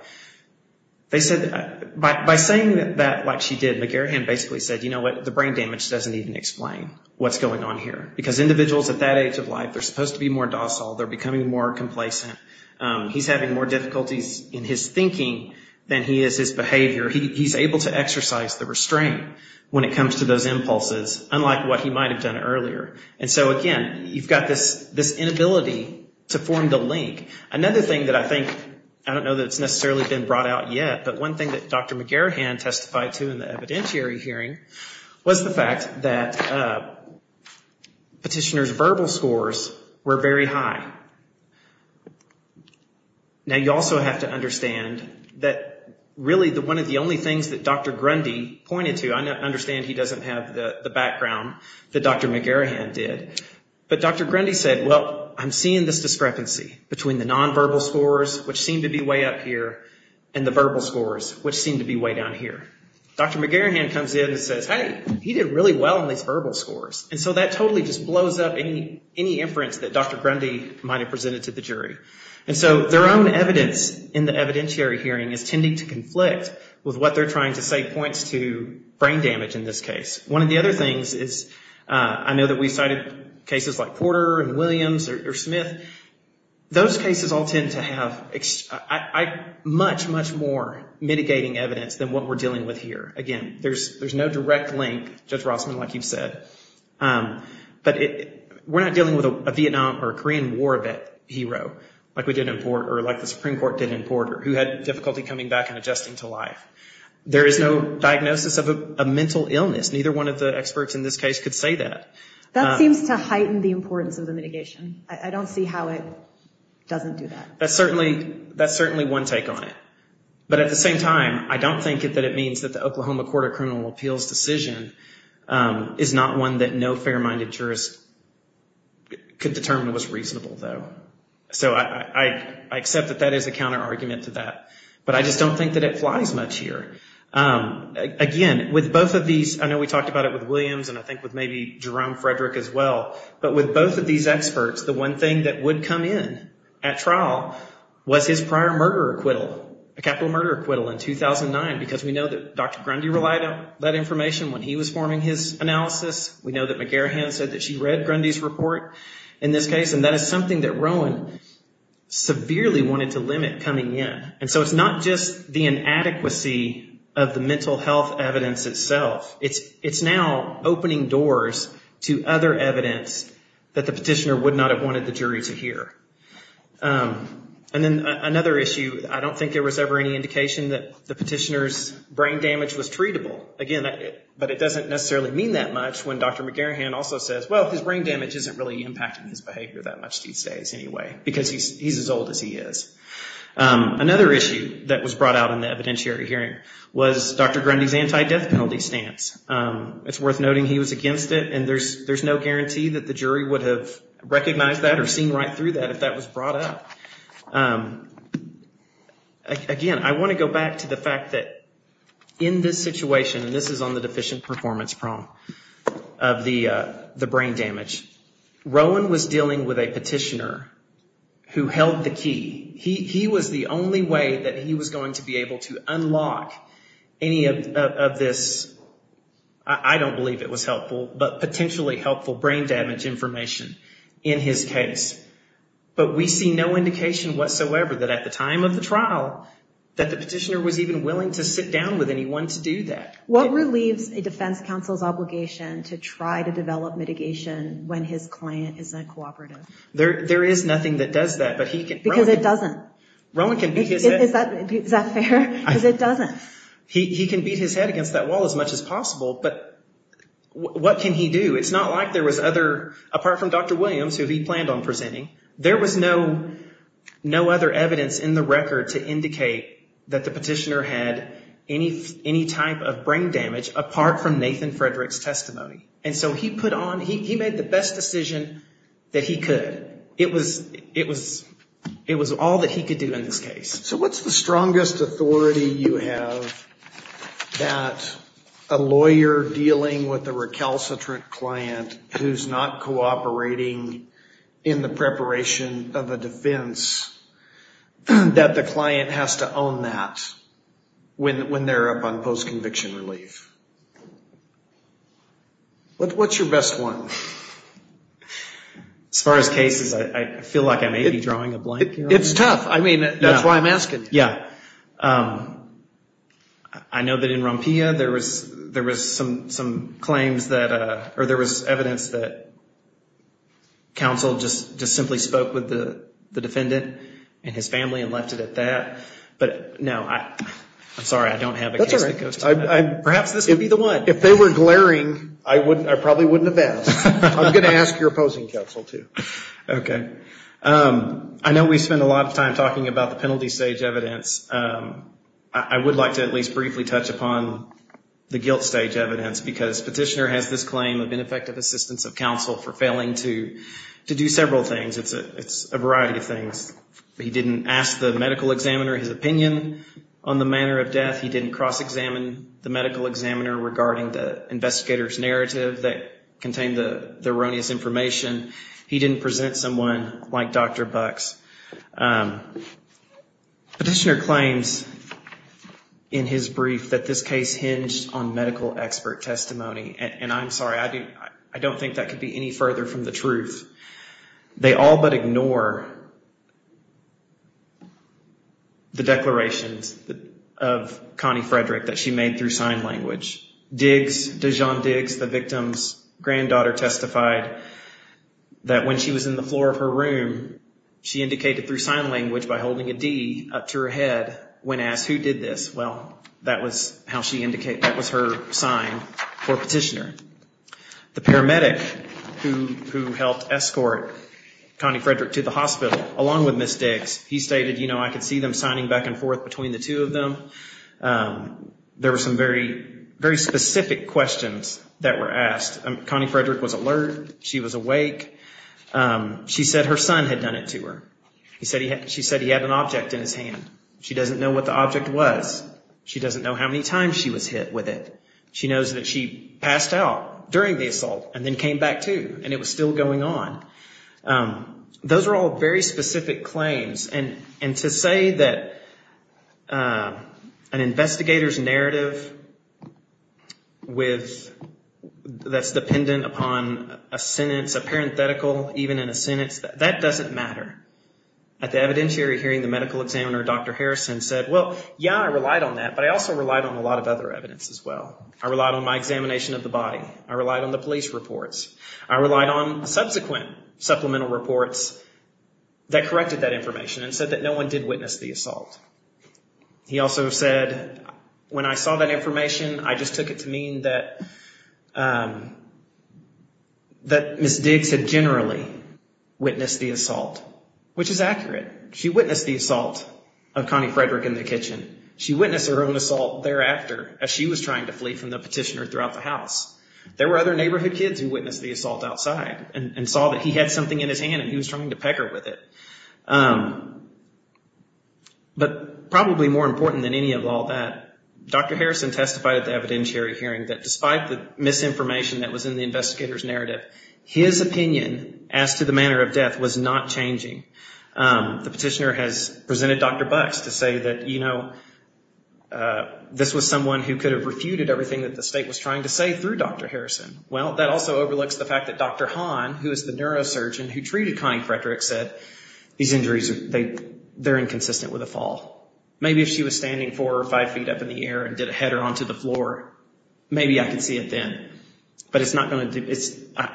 By saying that like she did, McGarahan basically said, you know what, the brain damage doesn't even explain what's going on here, because individuals at that age of life are supposed to be more docile. They're becoming more complacent. He's having more difficulties in his thinking than he is his behavior. He's able to exercise the restraint when it comes to those impulses, unlike what he might have done earlier. And so, again, you've got this inability to form the link. Another thing that I think—I don't know that it's necessarily been brought out yet, but one thing that Dr. McGarahan testified to in the evidentiary hearing was the fact that petitioner's verbal scores were very high. Now, you also have to understand that really one of the only things that Dr. Grundy pointed to— I understand he doesn't have the background that Dr. McGarahan did— but Dr. Grundy said, well, I'm seeing this discrepancy between the nonverbal scores, which seem to be way up here, and the verbal scores, which seem to be way down here. Dr. McGarahan comes in and says, hey, he did really well on these verbal scores. And so that totally just blows up any inference that Dr. Grundy might have presented to the jury. And so their own evidence in the evidentiary hearing is tending to conflict with what they're trying to say points to brain damage in this case. One of the other things is I know that we cited cases like Porter and Williams or Smith. Those cases all tend to have much, much more mitigating evidence than what we're dealing with here. Again, there's no direct link, Judge Rossman, like you've said. But we're not dealing with a Vietnam or Korean War vet hero like we did in Porter or like the Supreme Court did in Porter who had difficulty coming back and adjusting to life. There is no diagnosis of a mental illness. Neither one of the experts in this case could say that. That seems to heighten the importance of the mitigation. I don't see how it doesn't do that. That's certainly one take on it. But at the same time, I don't think that it means that the Oklahoma Court of Criminal Appeals decision is not one that no fair-minded jurist could determine was reasonable, though. So I accept that that is a counterargument to that. But I just don't think that it flies much here. Again, with both of these, I know we talked about it with Williams and I think with maybe Jerome Frederick as well, but with both of these experts, the one thing that would come in at trial was his prior murder acquittal, a capital murder acquittal in 2009, because we know that Dr. Grundy relied on that information when he was forming his analysis. We know that McGarahan said that she read Grundy's report in this case, and that is something that Rowan severely wanted to limit coming in. And so it's not just the inadequacy of the mental health evidence itself. It's now opening doors to other evidence that the petitioner would not have wanted the jury to hear. And then another issue, I don't think there was ever any indication that the petitioner's brain damage was treatable. Again, but it doesn't necessarily mean that much when Dr. McGarahan also says, well, his brain damage isn't really impacting his behavior that much these days anyway, because he's as old as he is. Another issue that was brought out in the evidentiary hearing was Dr. Grundy's anti-death penalty stance. It's worth noting he was against it, and there's no guarantee that the jury would have recognized that or seen right through that if that was brought up. Again, I want to go back to the fact that in this situation, and this is on the deficient performance prong of the brain damage, Rowan was dealing with a petitioner who held the key. He was the only way that he was going to be able to unlock any of this, I don't believe it was helpful, but potentially helpful brain damage information in his case. But we see no indication whatsoever that at the time of the trial, that the petitioner was even willing to sit down with anyone to do that. What relieves a defense counsel's obligation to try to develop mitigation when his client is a cooperative? There is nothing that does that, but he can... Because it doesn't. Rowan can beat his head... Is that fair? Because it doesn't. He can beat his head against that wall as much as possible, but what can he do? It's not like there was other, apart from Dr. Williams, who he planned on presenting, there was no other evidence in the record to indicate that the petitioner had any type of brain damage apart from Nathan Frederick's testimony. And so he put on, he made the best decision that he could. It was all that he could do in this case. So what's the strongest authority you have that a lawyer dealing with a recalcitrant client who's not cooperating in the preparation of a defense, that the client has to own that when they're up on post-conviction relief? What's your best one? As far as cases, I feel like I may be drawing a blank here. It's tough. I mean, that's why I'm asking. Yeah. I know that in Rompilla there was some claims that, or there was evidence that counsel just simply spoke with the defendant and his family and left it at that. But no, I'm sorry, I don't have a case that goes to that. That's all right. Perhaps this could be the one. If they were glaring, I probably wouldn't have asked. I'm going to ask your opposing counsel, too. Okay. I know we spend a lot of time talking about the penalty stage evidence. I would like to at least briefly touch upon the guilt stage evidence, because Petitioner has this claim of ineffective assistance of counsel for failing to do several things. It's a variety of things. He didn't ask the medical examiner his opinion on the manner of death. He didn't cross-examine the medical examiner regarding the investigator's narrative that contained the erroneous information. He didn't present someone like Dr. Bux. Petitioner claims in his brief that this case hinged on medical expert testimony. And I'm sorry, I don't think that could be any further from the truth. They all but ignore the declarations of Connie Frederick that she made through sign language. Dijon Diggs, the victim's granddaughter, testified that when she was in the floor of her room, she indicated through sign language by holding a D up to her head when asked who did this. Well, that was how she indicated. That was her sign for Petitioner. The paramedic who helped escort Connie Frederick to the hospital, along with Ms. Diggs, he stated, you know, I could see them signing back and forth between the two of them. There were some very, very specific questions that were asked. Connie Frederick was alert. She was awake. She said her son had done it to her. She said he had an object in his hand. She doesn't know what the object was. She doesn't know how many times she was hit with it. She knows that she passed out during the assault and then came back to and it was still going on. Those are all very specific claims. And to say that an investigator's narrative that's dependent upon a sentence, a parenthetical, even in a sentence, that doesn't matter. At the evidentiary hearing, the medical examiner, Dr. Harrison, said, well, yeah, I relied on that, but I also relied on a lot of other evidence as well. I relied on my examination of the body. I relied on the police reports. I relied on subsequent supplemental reports that corrected that information and said that no one did witness the assault. He also said, when I saw that information, I just took it to mean that Ms. Diggs had generally witnessed the assault, which is accurate. She witnessed the assault of Connie Frederick in the kitchen. She witnessed her own assault thereafter as she was trying to flee from the petitioner throughout the house. There were other neighborhood kids who witnessed the assault outside and saw that he had something in his hand and he was trying to pecker with it. But probably more important than any of all that, Dr. Harrison testified at the evidentiary hearing that despite the misinformation that was in the investigator's narrative, his opinion as to the manner of death was not changing. The petitioner has presented Dr. Bucks to say that, you know, this was someone who could have refuted everything that the state was trying to say through Dr. Harrison. Well, that also overlooks the fact that Dr. Hahn, who is the neurosurgeon who treated Connie Frederick, said these injuries, they're inconsistent with a fall. Maybe if she was standing four or five feet up in the air and did a header onto the floor, maybe I could see it then, but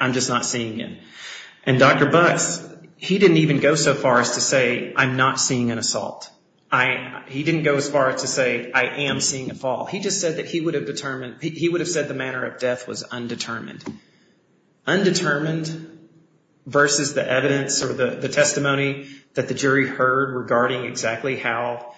I'm just not seeing it. And Dr. Bucks, he didn't even go so far as to say, I'm not seeing an assault. He didn't go as far as to say, I am seeing a fall. He just said that he would have determined, he would have said the manner of death was undetermined. Undetermined versus the evidence or the testimony that the jury heard regarding exactly how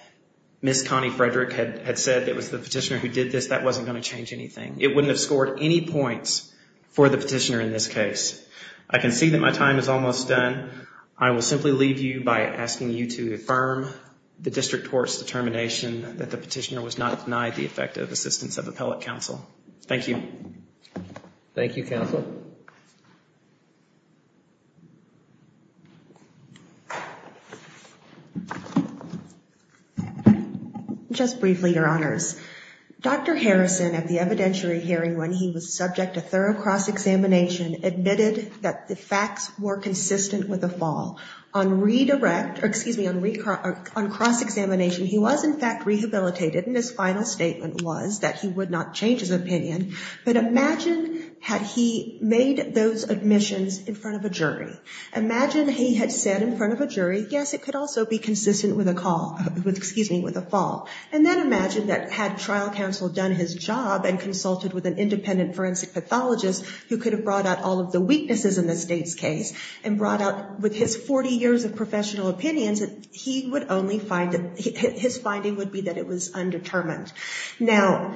Ms. Connie Frederick had said that it was the petitioner who did this, that wasn't going to change anything. It wouldn't have scored any points for the petitioner in this case. I can see that my time is almost done. I will simply leave you by asking you to affirm the district court's determination that the petitioner was not denied the effective assistance of appellate counsel. Thank you. Thank you, counsel. Just briefly, Your Honors. Dr. Harrison, at the evidentiary hearing when he was subject to thorough cross-examination, admitted that the facts were consistent with a fall. On cross-examination, he was in fact rehabilitated, and his final statement was that he would not change his opinion. But imagine had he made those admissions in front of a jury. Imagine he had said in front of a jury, yes, it could also be consistent with a fall. And then imagine that had trial counsel done his job and consulted with an independent forensic pathologist who could have brought out all of the weaknesses in the state's case and brought out with his 40 years of professional opinions, his finding would be that it was undetermined. Now,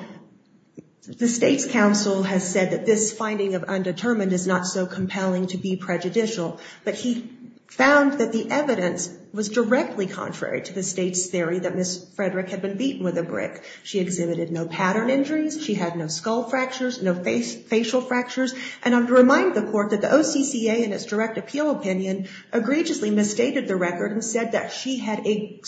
the state's counsel has said that this finding of undetermined is not so compelling to be prejudicial, but he found that the evidence was directly contrary to the state's theory that Ms. Frederick had been beaten with a brick. She exhibited no pattern injuries. She had no skull fractures, no facial fractures. And I would remind the court that the OCCA, in its direct appeal opinion, egregiously misstated the record and said that she had a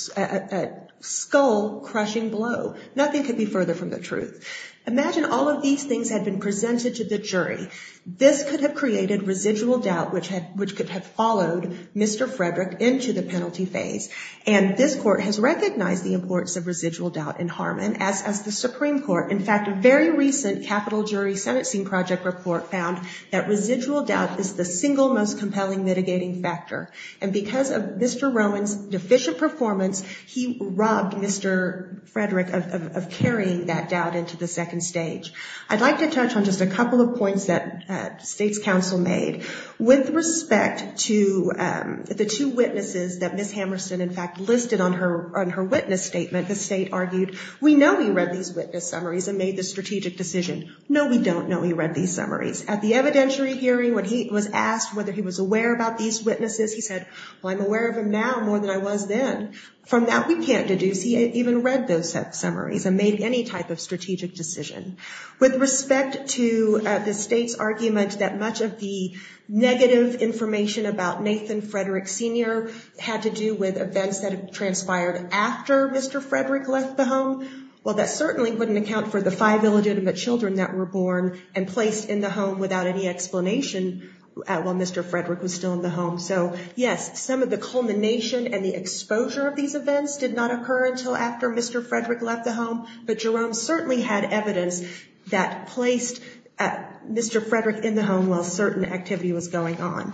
skull crushing blow. Nothing could be further from the truth. Imagine all of these things had been presented to the jury. This could have created residual doubt, which could have followed Mr. Frederick into the penalty phase. And this court has recognized the importance of residual doubt in Harmon as the Supreme Court. In fact, a very recent capital jury sentencing project report found that residual doubt is the single most compelling mitigating factor. And because of Mr. Rowan's deficient performance, he robbed Mr. Frederick of carrying that doubt into the second stage. I'd like to touch on just a couple of points that the state's counsel made With respect to the two witnesses that Ms. Hammerson in fact listed on her witness statement, the state argued, we know he read these witness summaries and made the strategic decision. No, we don't know he read these summaries. At the evidentiary hearing, when he was asked whether he was aware about these witnesses, he said, well, I'm aware of them now more than I was then. From that, we can't deduce he even read those summaries and made any type of strategic decision. With respect to the state's argument that much of the negative information about Nathan Frederick Sr. had to do with events that transpired after Mr. Frederick left the home, well, that certainly wouldn't account for the five illegitimate children that were born and placed in the home without any explanation while Mr. Frederick was still in the home. So, yes, some of the culmination and the exposure of these events But Jerome certainly had evidence that placed Mr. Frederick in the home while certain activity was going on.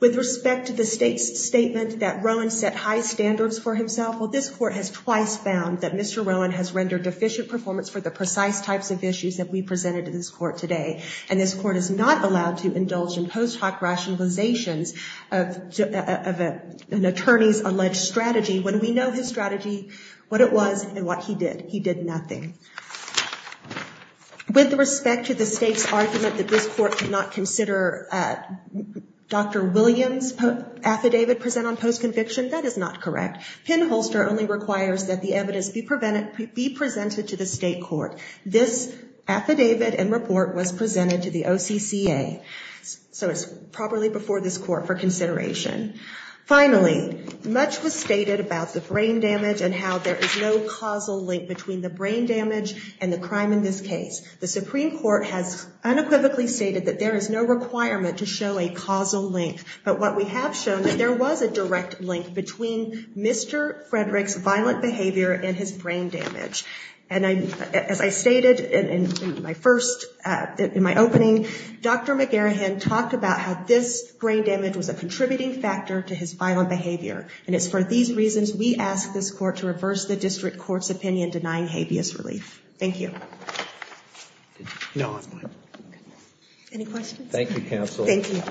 With respect to the state's statement that Rowan set high standards for himself, well, this court has twice found that Mr. Rowan has rendered deficient performance for the precise types of issues that we presented to this court today. And this court is not allowed to indulge in post hoc rationalizations of an attorney's alleged strategy when we know his strategy, what it was, and what he did. He did nothing. With respect to the state's argument that this court could not consider Dr. Williams' affidavit present on post conviction, that is not correct. Pinholster only requires that the evidence be presented to the state court. This affidavit and report was presented to the OCCA. So it's properly before this court for consideration. Finally, much was stated about the brain damage and how there is no causal link between the brain damage and the crime in this case. The Supreme Court has unequivocally stated that there is no requirement to show a causal link. But what we have shown is there was a direct link between Mr. Frederick's violent behavior and his brain damage. And as I stated in my opening, Dr. McGarahan talked about how this brain damage was a contributing factor to his violent behavior. And it's for these reasons we ask this court to reverse the district court's opinion denying habeas relief. Thank you. Any questions? Thank you, counsel. Thank you.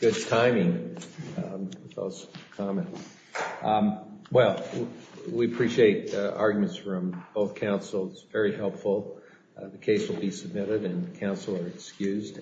Good timing, those comments. Well, we appreciate arguments from both counsels. Very helpful. The case will be submitted and counsel are excused.